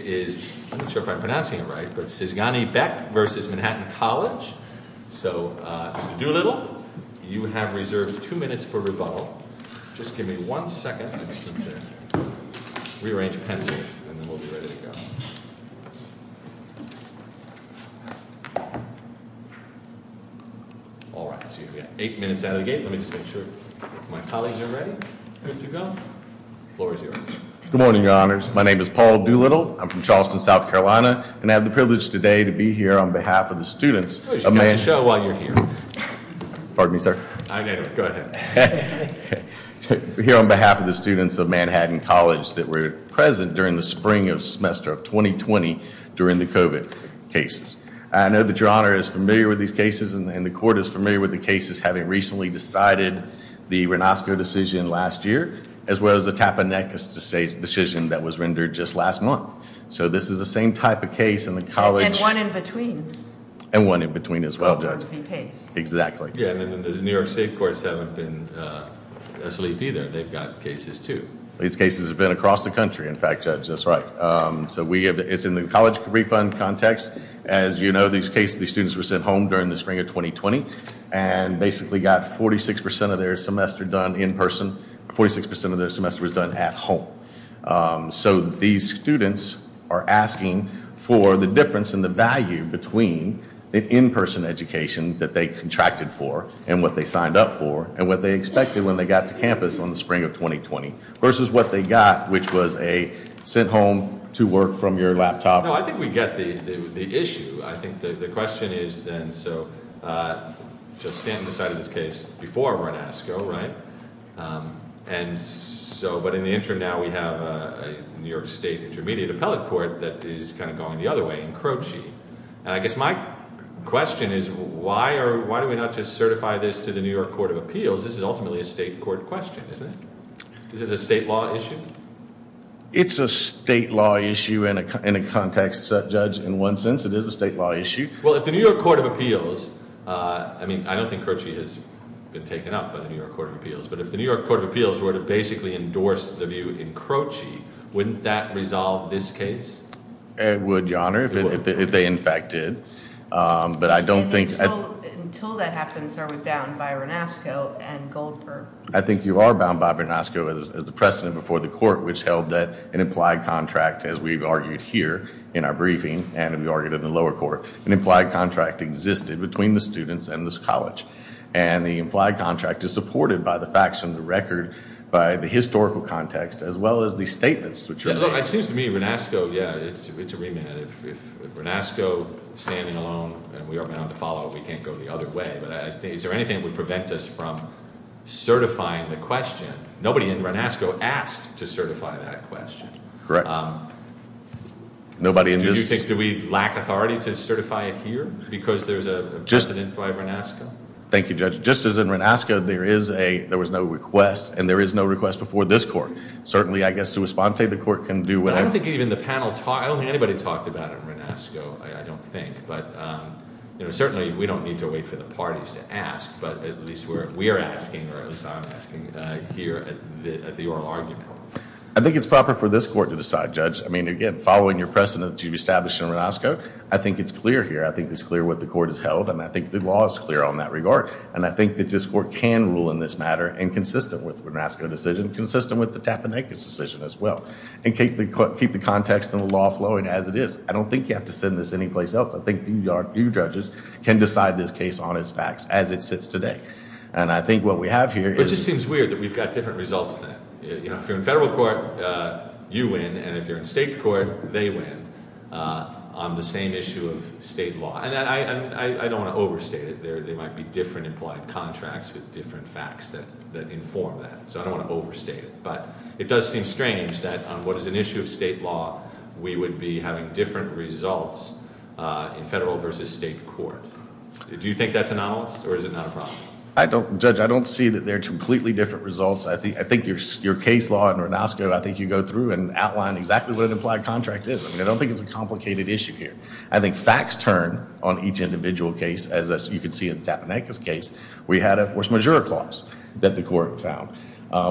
is, I'm not sure if I'm pronouncing it right, but Szygany-Beck v. Manhattan College. So, Mr. Doolittle, you have reserved two minutes for rebuttal. Just give me one second to rearrange pencils, and then we'll be ready to go. Alright, so you've got eight minutes out of the gate. Let me just make sure my colleagues are ready. Good morning, Your Honors. My name is Paul Doolittle. I'm from Charleston, South Carolina, and I have the privilege today to be here on behalf of the students of Manhattan College. Pardon me, sir? I get it. Go ahead. Here on behalf of the students of Manhattan College that were present during the spring of the semester of 2020 during the COVID cases. I know that Your Honor is familiar with these cases, and the court is familiar with the cases having recently decided the Renosco decision last year, as well as the Tappanekis decision that was rendered just last month. So this is the same type of case in the college. And one in between. And one in between as well, Judge. Exactly. Yeah, and the New York State courts haven't been asleep either. They've got cases too. These cases have been across the country, in fact, Judge, that's right. It's in the college refund context. As you know, these cases, these students were sent home during the spring of 2020 and basically got 46% of their semester done in person. 46% of their semester was done at home. So these students are asking for the difference in the value between the in-person education that they contracted for and what they signed up for and what they expected when they got to campus on the spring of 2020 versus what they got, which was a sent home to work from your laptop. No, I think we get the issue. I think the question is then, so Judge Stanton decided this case before Renosco, right? But in the interim now we have a New York State Intermediate Appellate Court that is kind of going the other way in Croce. And I guess my question is why do we not just state law issue? It's a state law issue in a context, Judge, in one sense. It is a state law issue. Well, if the New York Court of Appeals, I mean, I don't think Croce has been taken up by the New York Court of Appeals, but if the New York Court of Appeals were to basically endorse the view in Croce, wouldn't that resolve this case? It would, Your Honor, if they in fact did. But I don't think... Until that happens, are we bound by Renosco and Goldberg? I think you are bound by Renosco as the precedent before the court, which held that an implied contract, as we've argued here in our briefing and we argued in the lower court, an implied contract existed between the students and this college. And the implied contract is supported by the facts and the record by the historical context, as well as the statements. It seems to me Renosco, yeah, it's a remand. If Renosco is standing alone and we are bound to follow it, we can't go the other way. But is there anything that would prevent us from certifying the question? Nobody in Renosco asked to certify that question. Correct. Nobody in this... Do you think we lack authority to certify it here? Because there's an implied Renosco? Thank you, Judge. Just as in Renosco, there was no request, and there is no request before this court. Certainly, I guess to respond to it, the court can do whatever... I don't think even the panel... I don't think anybody talked about it in Renosco, I don't think. But certainly we don't need to wait for the parties to ask, but at least we're asking, or at least I'm asking here at the oral argument. I think it's proper for this court to decide, Judge. I mean, again, following your precedent that you've established in Renosco, I think it's clear here. I think it's clear what the court has held, and I think the law is clear on that regard. And I think that this court can rule in this matter, and consistent with the Renosco decision, consistent with the Tapenikus decision as well, and keep the context and the law flowing as it is. I don't think you have to send this anyplace else. I think you judges can decide this case on its facts as it sits today. And I think what we have here is... But it just seems weird that we've got different results then. If you're in federal court, you win, and if you're in state court, they win on the same issue of state law. And I don't want to overstate it. There might be different implied contracts with different facts that inform that. So I don't want to overstate it. But it does seem strange that on what is an issue of state law, we would be having different results in federal versus state court. Do you think that's anomalous, or is it not a problem? Judge, I don't see that they're completely different results. I think your case law in Renosco, I think you go through and outline exactly what an implied contract is. I don't think it's a complicated issue here. I think facts turn on each individual case, as you can see in Tapenikus case, we had a force majeure clause that the court found.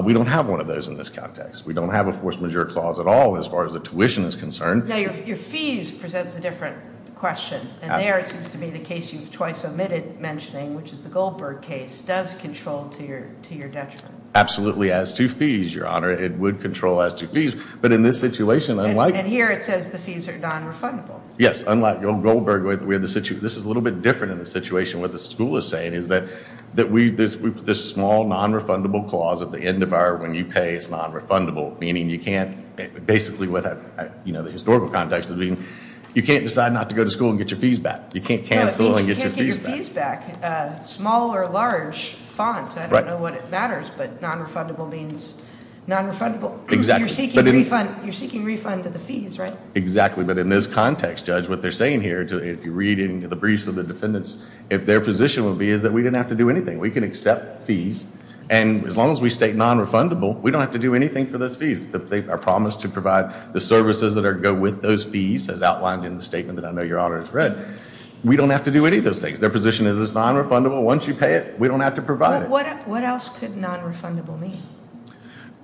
We don't have one of those in this context. We don't have a force majeure clause at all as far as the tuition is concerned. Your fees presents a different question. And there it seems to be the case you've twice omitted mentioning, which is the Goldberg case, does control to your detriment. Absolutely. As to fees, Your Honor, it would control as to fees. But in this situation, unlike... And here it says the fees are non-refundable. Yes. Unlike Goldberg, this is a little bit different in the situation. What the school is saying is that we put this small non-refundable clause at the end of our when you pay is non-refundable, meaning you can't, basically what the historical context is, you can't decide not to go to school and get your fees back. You can't cancel and get your fees back. Small or large font. I don't know what matters, but non-refundable means non-refundable. You're seeking refund to the fees, right? Exactly. But in this context, Judge, what they're saying here, if you're reading the briefs of the defendants, if their position would be is that we didn't have to do anything. We can accept fees. And as long as we state non-refundable, we don't have to do anything for those fees. They are promised to provide the services that go with those fees, as outlined in the statement that I know Your Honor has read. We don't have to do any of those things. Their position is it's non-refundable. Once you pay it, we don't have to provide it. What else could non-refundable mean?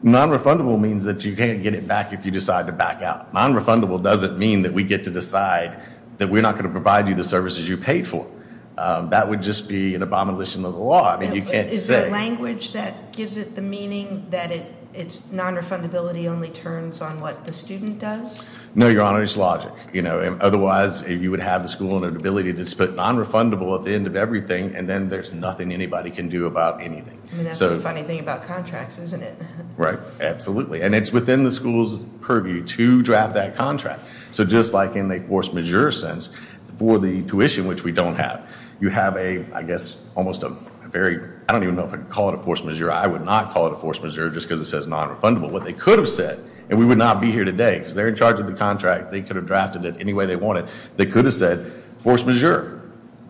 Non-refundable means that you can't get it back if you decide to back out. Non-refundable doesn't mean that we get to decide that we're not going to provide you the services you paid for. That would just be an abomination of the law. Is there language that gives it the meaning that it's non-refundability only turns on what the student does? No, Your Honor. It's logic. Otherwise, you would have the school in an ability to split non-refundable at the end of everything, and then there's nothing anybody can do about anything. That's the funny thing about contracts, isn't it? Right. Absolutely. And it's within the school's purview to draft that contract. So just like in a force majeure sense for the tuition, which we don't have, you have a, I guess, almost a very, I don't even know if I can call it a force majeure. I would not call it a force majeure just because it says non-refundable. What they could have said, and we would not be here today because they're in charge of the contract. They could have drafted it any way they wanted. They could have said force majeure.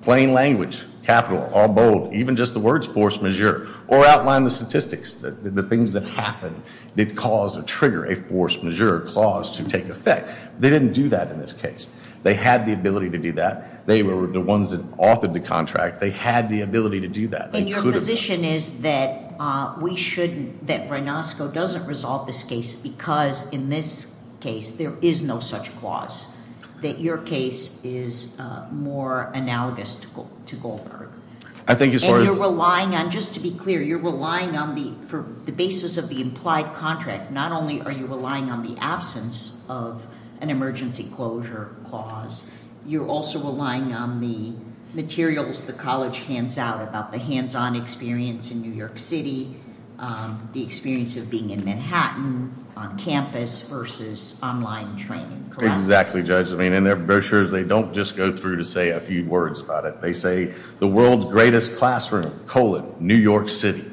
Plain language. Capital. All bold. Even just the words force majeure. Or outline the statistics. The things that happened did cause or trigger a force majeure clause to take effect. They didn't do that in this case. They had the ability to do that. They were the ones that authored the contract. They had the ability to do that. And your position is that we shouldn't, that Reynosco doesn't resolve this case because in this case there is no such clause. That your case is more analogous to Goldberg. And you're relying on, just to be clear, you're relying on the basis of the implied contract. Not only are you relying on the absence of an emergency closure clause, you're also relying on the materials the college hands out about the hands-on experience in New York City, the experience of being in Manhattan on campus versus online training. Correct? Exactly, Judge. I mean in their brochures they don't just go through to say a few words about it. They say the world's greatest classroom, colon, New York City.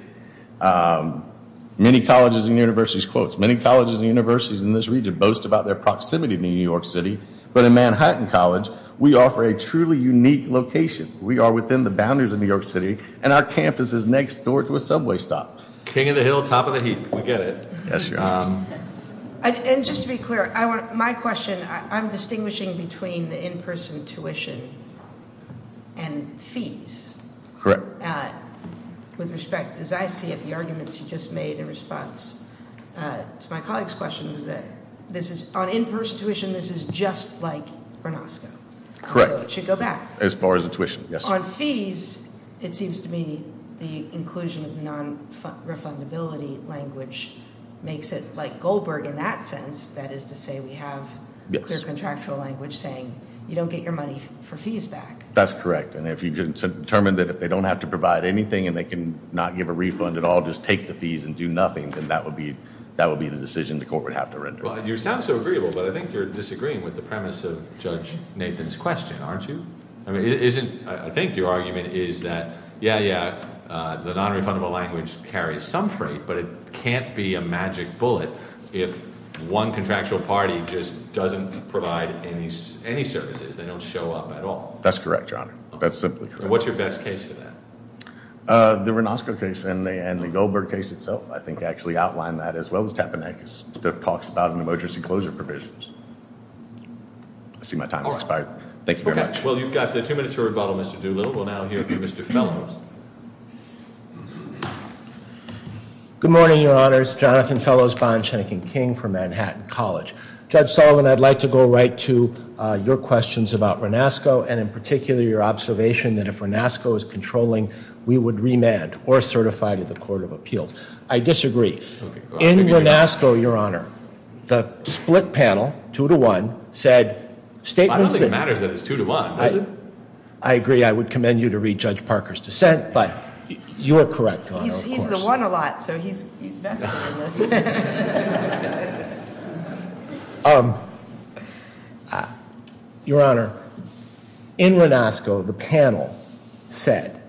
Many colleges and universities, quotes, many colleges and universities in this region boast about their proximity to New York City, but in Manhattan College we offer a truly unique location. We are within the boundaries of New York City and our campus is next door to a subway stop. King of the hill, top of the heap. We get it. And just to be clear, my question, I'm distinguishing between the in-person tuition and fees. Correct. With respect, as I see it, the arguments you just made in response to my colleague's question is that on in-person tuition this is just like Gronosco. Correct. So it should go back. As far as the tuition, yes. On fees it seems to me the inclusion of the non-refundability language makes it like Goldberg in that sense. That is to say we have clear contractual language saying you don't get your money for fees back. That's correct. And if you can determine that if they don't have to provide anything and they can not give a refund at all, just take the fees and do nothing, then that would be the decision the court would have to render. You sound so agreeable, but I think you're disagreeing with the is that, yeah, yeah, the non-refundable language carries some freight, but it can't be a magic bullet if one contractual party just doesn't provide any services. They don't show up at all. That's correct, Your Honor. That's simply correct. And what's your best case for that? The Gronosco case and the Goldberg case itself I think actually outline that as well as Tapanakis that talks about an emergency closure provisions. I see my time has expired. Thank you very much. Okay. Well, you've got two minutes to rebuttal, Mr. Doolittle. We'll now hear from Mr. Fellows. Good morning, Your Honors. Jonathan Fellows, Bond Shanking King from Manhattan College. Judge Sullivan, I'd like to go right to your questions about Gronosco and in particular your observation that if Gronosco is controlling, we would remand or certify to the Court of Appeals. I disagree. In Gronosco, Your Honor, the split panel, two to one, said statements that... I don't think it matters that it's two to one, does it? I agree. I would commend you to read Judge Parker's dissent, but you are correct, Your Honor. He's the one a lot, so he's best at this. Your Honor, in Gronosco, the panel said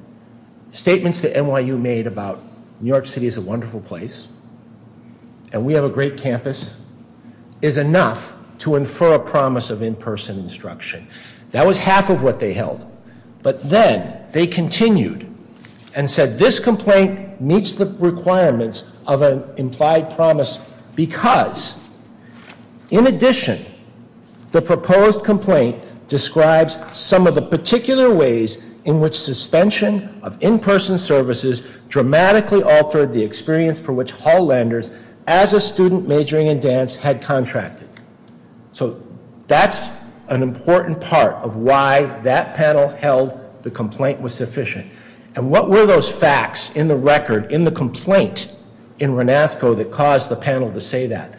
statements that NYU made about New York City is a wonderful place and we have a great campus is enough to infer a promise of in-person instruction. That was half of what they held. But then they continued and said this complaint meets the requirements of an implied promise because in addition, the proposed complaint describes some of the particular ways in which suspension of in-person services dramatically altered the experience for which Hall Landers, as a student majoring in dance, had contracted. So that's an important part of why that panel held the complaint was sufficient. And what were those facts in the record, in the complaint in Gronosco that caused the panel to say that?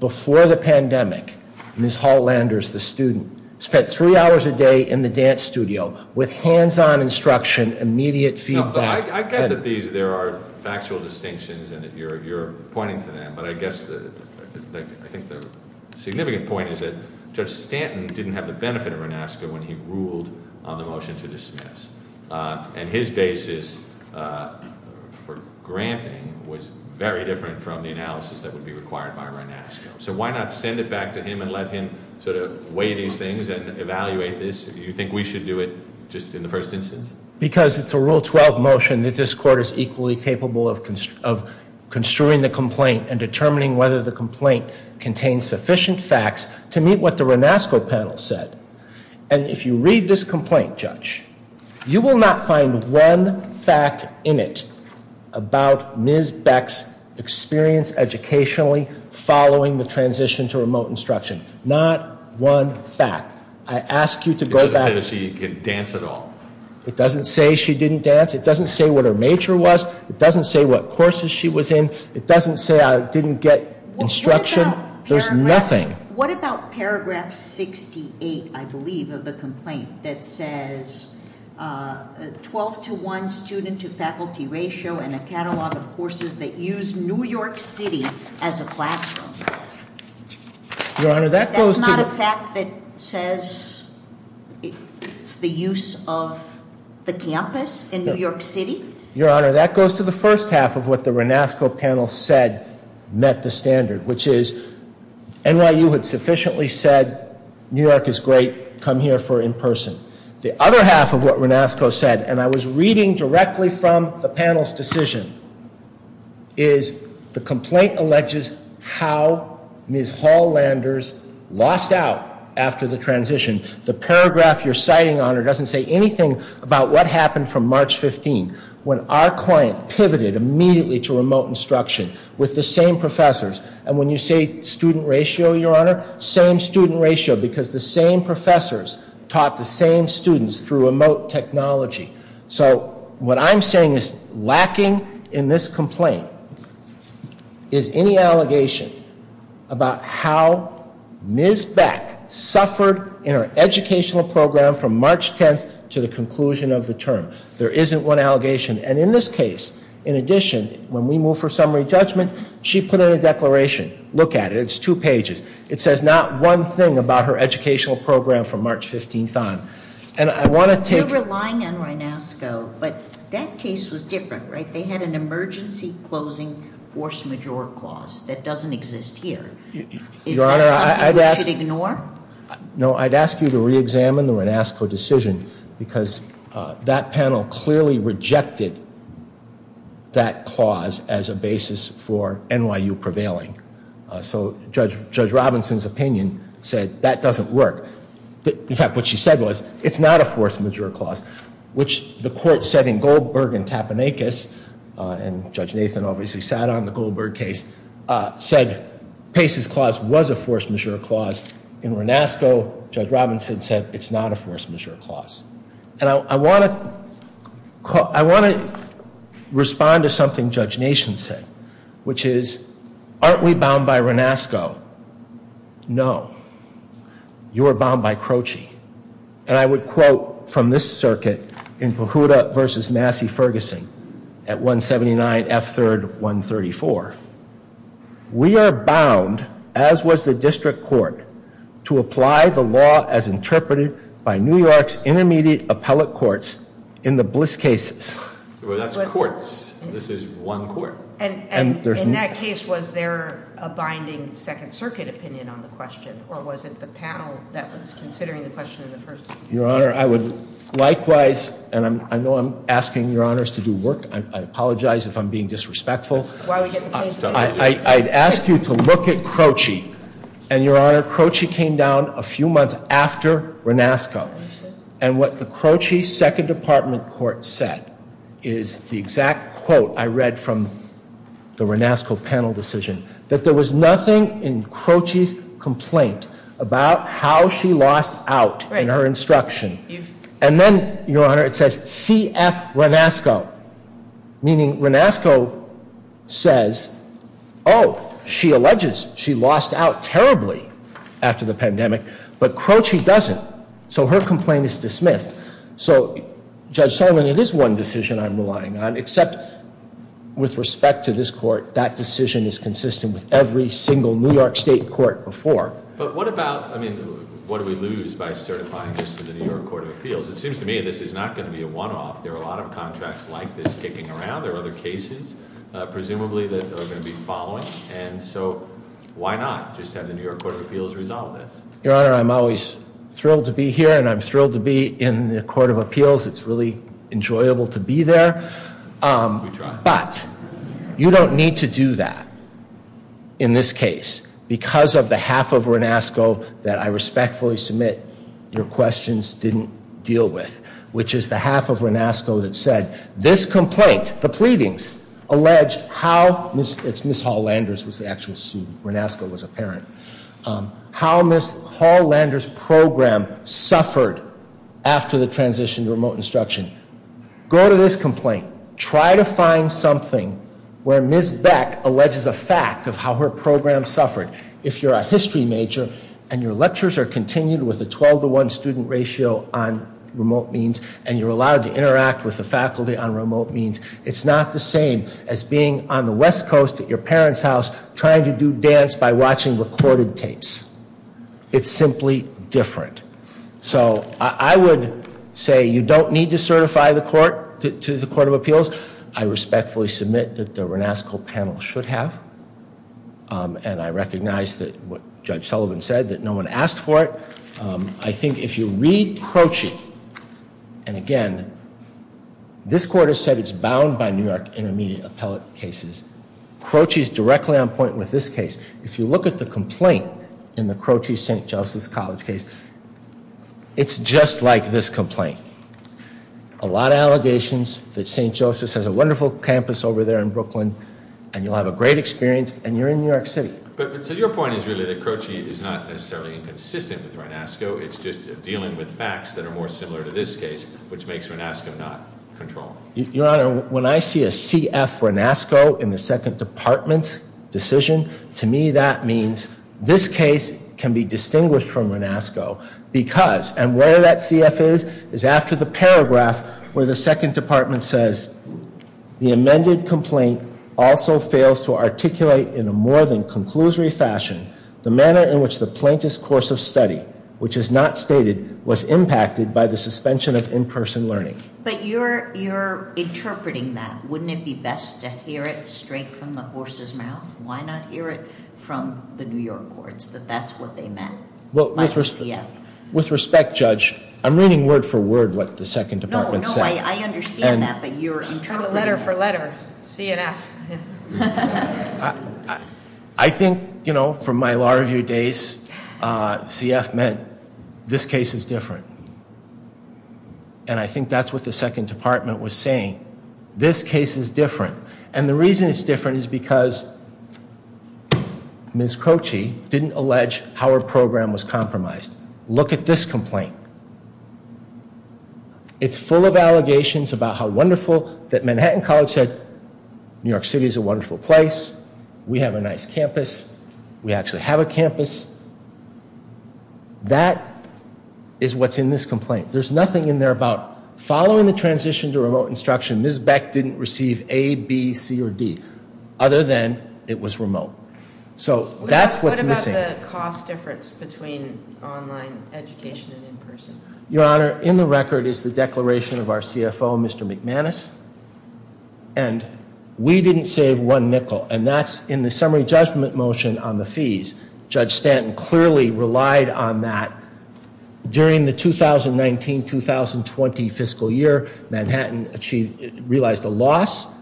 Before the pandemic, Ms. Hall Landers, the student, spent three hours a day in the dance studio with hands-on instruction, immediate feedback. I get that there are factual distinctions and that you're pointing to them, but I guess I think the significant point is that Judge Stanton didn't have the benefit of Gronosco when he ruled on the motion to suspend in-person instruction. I mean, the way he did it was very different from the analysis that would be required by Gronosco. So why not send it back to him and let him sort of weigh these things and evaluate this? Do you think we should do it just in the first instance? Because it's a Rule 12 motion that this Court is equally capable of construing the complaint and determining whether the complaint contains sufficient facts to meet what the Gronosco panel said. And if you read this complaint, Judge, you will not find one fact in it about Ms. Beck's experience educationally following the transition to remote instruction. Not one fact. I ask you to go back... It doesn't say that she didn't dance at all. It doesn't say she didn't dance. It doesn't say what her major was. It doesn't say what courses she was in. It doesn't say I didn't get instruction. There's nothing. What about paragraph 68, I believe, of the complaint that says 12 to 1 student to faculty ratio and a catalog of courses that use New York City as a classroom? Your Honor, that goes to... That's not a fact that says it's the use of the campus in New York City? Your Honor, that goes to the first half of what the Gronosco panel said met the standard, which is NYU had sufficiently said New York is great. Come here for in-person. The other half of what Gronosco said, and I was reading directly from the panel's decision, is the complaint alleges how Ms. Hall-Landers lost out after the transition. The paragraph you're citing, Your Honor, doesn't say anything about what happened from March 15 when our client pivoted immediately to remote instruction with the same professors. And when you say student ratio, Your Honor, same student ratio because the same professors taught the same students through remote technology. So what I'm saying is lacking in this complaint is any educational program from March 10th to the conclusion of the term. There isn't one allegation. And in this case, in addition, when we move for summary judgment, she put in a declaration. Look at it. It's two pages. It says not one thing about her educational program from March 15th on. And I want to take... You're relying on Gronosco, but that case was different, right? They had an emergency closing force majeure clause that doesn't exist here. Is that something we should ignore? No, I'd ask you to reexamine the Gronosco decision because that panel clearly rejected that clause as a basis for NYU prevailing. So Judge Robinson's opinion said that doesn't work. In fact, what she said was it's not a force majeure clause, which the court said in Goldberg and said Pace's clause was a force majeure clause. In Gronosco, Judge Robinson said it's not a force majeure clause. And I want to respond to something Judge Nation said, which is aren't we bound by Gronosco? No. You are bound by Croci. And I would quote from this circuit in Pujuta v. Massey-Ferguson at 179 F. 3rd 134. We are bound, as was the district court, to apply the law as interpreted by New York's intermediate appellate courts in the Bliss cases. That's courts. This is one court. And in that case, was there a binding Second Circuit opinion on the question? Or was it the panel that was considering the question in the first? Your Honor, I would likewise, and I know I'm asking Your Honors to do work. I apologize if I'm being disrespectful. I'd ask you to look at Croci. And Your Honor, Croci came down a few months after Gronosco. And what the Croci Second Department court said is the exact quote I read from the Gronosco panel decision, that there was nothing in Croci's complaint about how she lost out in her instruction. And then, Your Honor, it says C.F. Gronosco, meaning Gronosco says, oh, she alleges she lost out terribly after the pandemic. But Croci doesn't. So her complaint is dismissed. So, Judge Solon, it is one decision I'm relying on, except with respect to this court, that decision is consistent with every single New York State court before. But what about, I mean, what do we lose by certifying this to the New York Court of Appeals? It seems to me this is not going to be a one-off. There are a lot of contracts like this kicking around. There are other cases, presumably, that are going to be following. And so, why not just have the New York Court of Appeals resolve this? Your Honor, I'm always thrilled to be here, and I'm thrilled to be in the room, and I'm really enjoyable to be there. But you don't need to do that in this case, because of the half of Gronosco that I respectfully submit your questions didn't deal with, which is the half of Gronosco that said this complaint, the pleadings, allege how, it's Ms. Hall-Landers was the actual student, Gronosco was a parent, how Ms. Hall-Landers transitioned to remote instruction. Go to this complaint. Try to find something where Ms. Beck alleges a fact of how her program suffered. If you're a history major, and your lectures are continued with a 12 to 1 student ratio on remote means, and you're allowed to interact with the faculty on remote means, it's not the same as being on the West Coast at your parent's house trying to do dance by watching recorded tapes. It's simply different. So I would say you don't need to certify the court, to the Court of Appeals. I respectfully submit that the Gronosco panel should have, and I recognize what Judge Sullivan said, that no one asked for it. I think if you read Croci, and again, this court has said it's bound by New York intermediate appellate cases. Croci is directly on point with this case. If you look at the complaint in the Croci St. Joseph's College case, it's just like this complaint. A lot of allegations that St. Joseph's has a wonderful campus over there in Brooklyn, and you'll have a great experience, and you're in New York City. But so your point is really that Croci is not necessarily inconsistent with Gronosco, it's just dealing with facts that are more similar to this case, which makes Gronosco not controlled. Your Honor, when I see a CF Gronosco in the second department's decision, to me that means this case can be distinguished from Gronosco because, and where that CF is, is after the paragraph where the second department says, the amended complaint also fails to articulate in a more than conclusory fashion the manner in which the plaintiff's course of study, which is not stated, was impacted by the suspension of in-person learning. But you're interpreting that. Wouldn't it be best to hear it straight from the horse's mouth? Why not hear it from the New York courts, that that's what they meant by the CF? With respect, Judge, I'm reading word for word what the second department said. No, I understand that, but you're interpreting that. Letter for letter, CF. I think, you know, from my law review days, CF meant this case is different. And I think that's what the second department was saying. This case is different. And the reason it's different is because Ms. Croci didn't allege how her program was compromised. Look at this complaint. It's full of allegations about how wonderful that Manhattan College said New York City is a wonderful place. We have a nice campus. We actually have a campus. That is what's in this complaint. There's nothing in there about following the transition to remote instruction. Ms. Beck didn't receive A, B, C, or D, other than it was remote. So that's what's missing. What about the cost difference between online education and in person? Your Honor, in the record is the declaration of our CFO, Mr. McManus. And we didn't save one nickel. And that's in the summary judgment motion on the fees. Judge Stanton clearly relied on that during the 2019-2020 fiscal year. Manhattan realized a loss.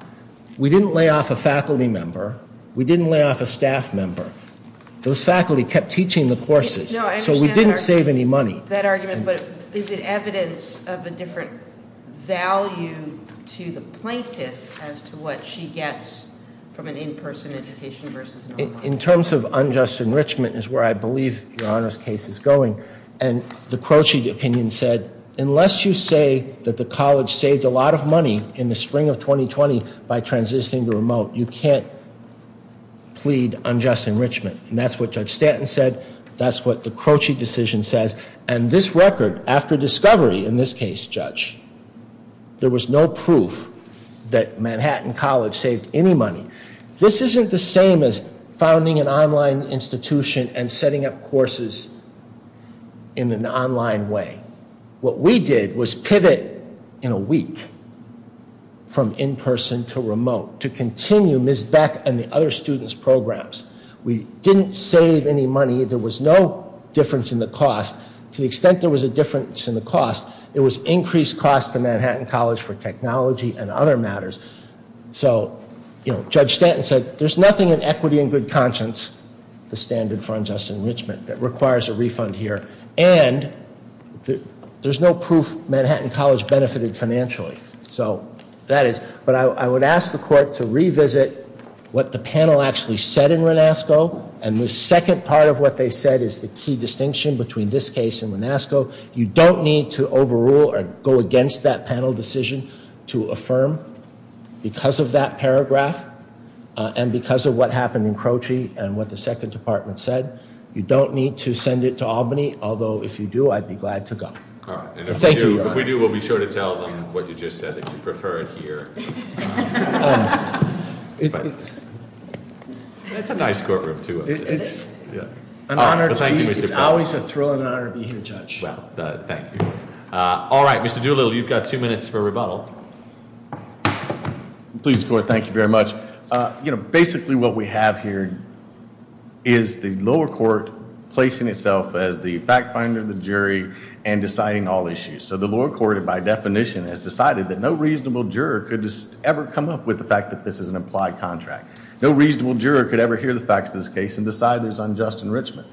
We didn't lay off a faculty member. We didn't lay off a staff member. Those faculty kept teaching the courses. So we didn't save any money. Is it evidence of a different value to the plaintiff as to what she gets from an in person education versus online? In terms of unjust enrichment is where I believe Your Honor's case is going. And the Croce opinion said, unless you say that the college saved a lot of money in the spring of 2020 by transitioning to remote, you can't plead unjust enrichment. And that's what Judge Stanton said. That's what the Croce decision says. And this record after discovery in this case, Judge, there was no proof that Manhattan College saved any money. This isn't the same as founding an online institution and setting up courses in an online way. What we did was pivot in a week from in person to remote to continue Ms. Beck and the other students programs. We didn't save any money. There was no difference in the cost. To the extent there was a difference in the cost, it was increased cost to Manhattan College for equity and good conscience, the standard for unjust enrichment that requires a refund here. And there's no proof Manhattan College benefited financially. So that is, but I would ask the court to revisit what the panel actually said in Renasco. And the second part of what they said is the key distinction between this case and Renasco. You don't need to overrule or go against that panel decision to affirm because of that paragraph and because of what happened in Croce and what the second department said. You don't need to send it to Albany. Although if you do, I'd be glad to go. Thank you. If we do, we'll be sure to tell them what you just said that you prefer it here. It's a nice courtroom too. It's an honor. Thank you. It's always a thrill and rebuttal. Please go ahead. Thank you very much. Basically what we have here is the lower court placing itself as the fact finder, the jury, and deciding all issues. So the lower court by definition has decided that no reasonable juror could ever come up with the fact that this is an implied contract. No reasonable juror could ever hear the facts of this case and decide there's unjust enrichment.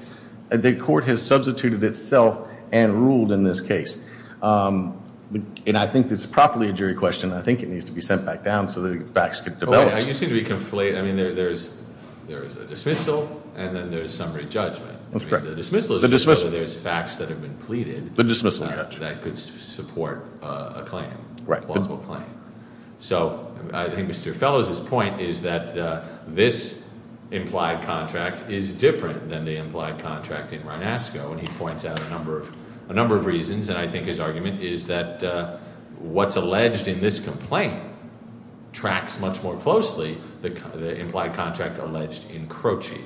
The court has substituted itself and ruled in this case. I think it's properly a jury question. I think it needs to be sent back down so the facts can develop. There's a dismissal and then there's summary judgment. The dismissal is whether there's facts that have been pleaded that could support a claim, a plausible claim. So I think Mr. Fellows' point is that this implied contract is different than the implied contract in Reynasco. And he points out a number of reasons. And I think his argument is that what's alleged in this complaint tracks much more closely the implied contract alleged in Croce.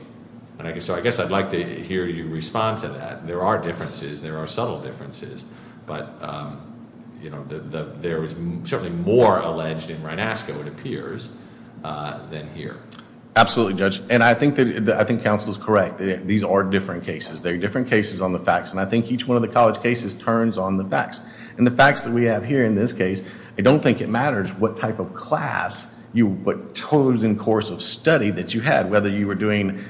So I guess I'd like to hear you respond to that. There are differences. There are subtle differences. But there is certainly more alleged in Reynasco, it appears, than here. Absolutely, Judge. And I think counsel is correct. These are different cases. They're different cases on the facts. And I think each one of the college cases turns on the facts. And the facts that we have here in this case, I don't think it matters what type of class, what chosen course of study that you had. Whether you were doing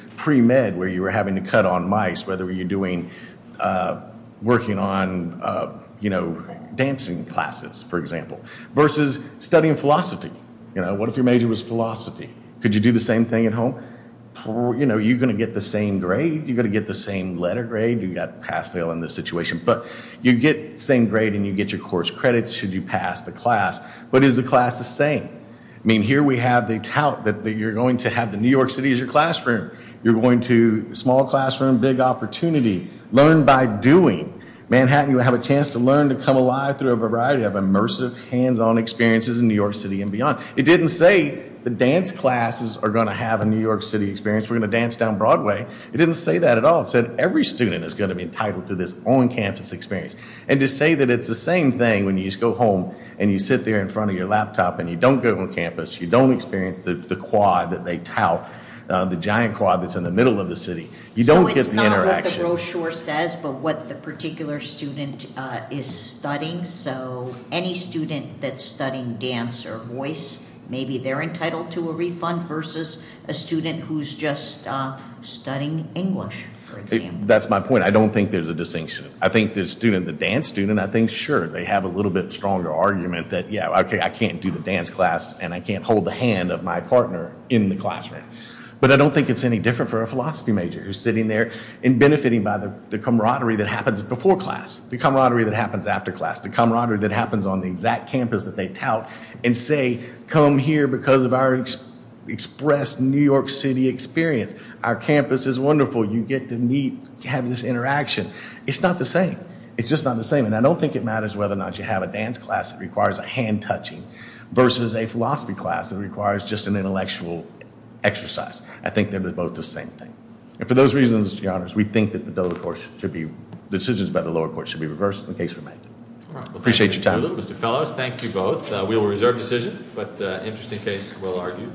dancing classes, for example, versus studying philosophy. What if your major was philosophy? Could you do the same thing at home? You're going to get the same grade. You're going to get the same letter grade. You've got pass, fail in this situation. But you get the same grade and you get your course credits should you pass the class. But is the class the same? I mean, here we have the tout that you're going to have the New York City as your classroom. You're going to small classroom, big opportunity. Learn by doing. Manhattan, you have a chance to learn to come alive through a variety of immersive, hands-on experiences in New York City and beyond. It didn't say the dance classes are going to have a New York City experience. We're going to dance down Broadway. It didn't say that at all. It said every student is going to be entitled to this on-campus experience. And to say that it's the same thing when you just go home and you sit there in front of your laptop and you don't go to campus, you don't experience the quad that they tout, the giant quad that's in the middle of the city. You don't get the interaction. So it's not what the brochure says, but what the particular student is studying. So any student that's studying dance or voice, maybe they're entitled to a refund versus a student who's just studying English, for example. That's my point. I don't think there's a distinction. I think the students have a little bit stronger argument that, yeah, okay, I can't do the dance class and I can't hold the hand of my partner in the classroom. But I don't think it's any different for a philosophy major who's sitting there and benefiting by the camaraderie that happens before class, the camaraderie that happens after class, the camaraderie that happens on the exact campus that they tout and say, come here because of our express New York City experience. Our campus is wonderful. You get to meet, have this interaction. It's not the same. It's just not the same. And I don't think it matters whether or not you have a dance class that requires a hand touching versus a philosophy class that requires just an intellectual exercise. I think they're both the same thing. And for those reasons, your honors, we think that the decisions by the lower court should be reversed in the case we're making. Thank you both. We will reserve decision, but interesting case we'll argue.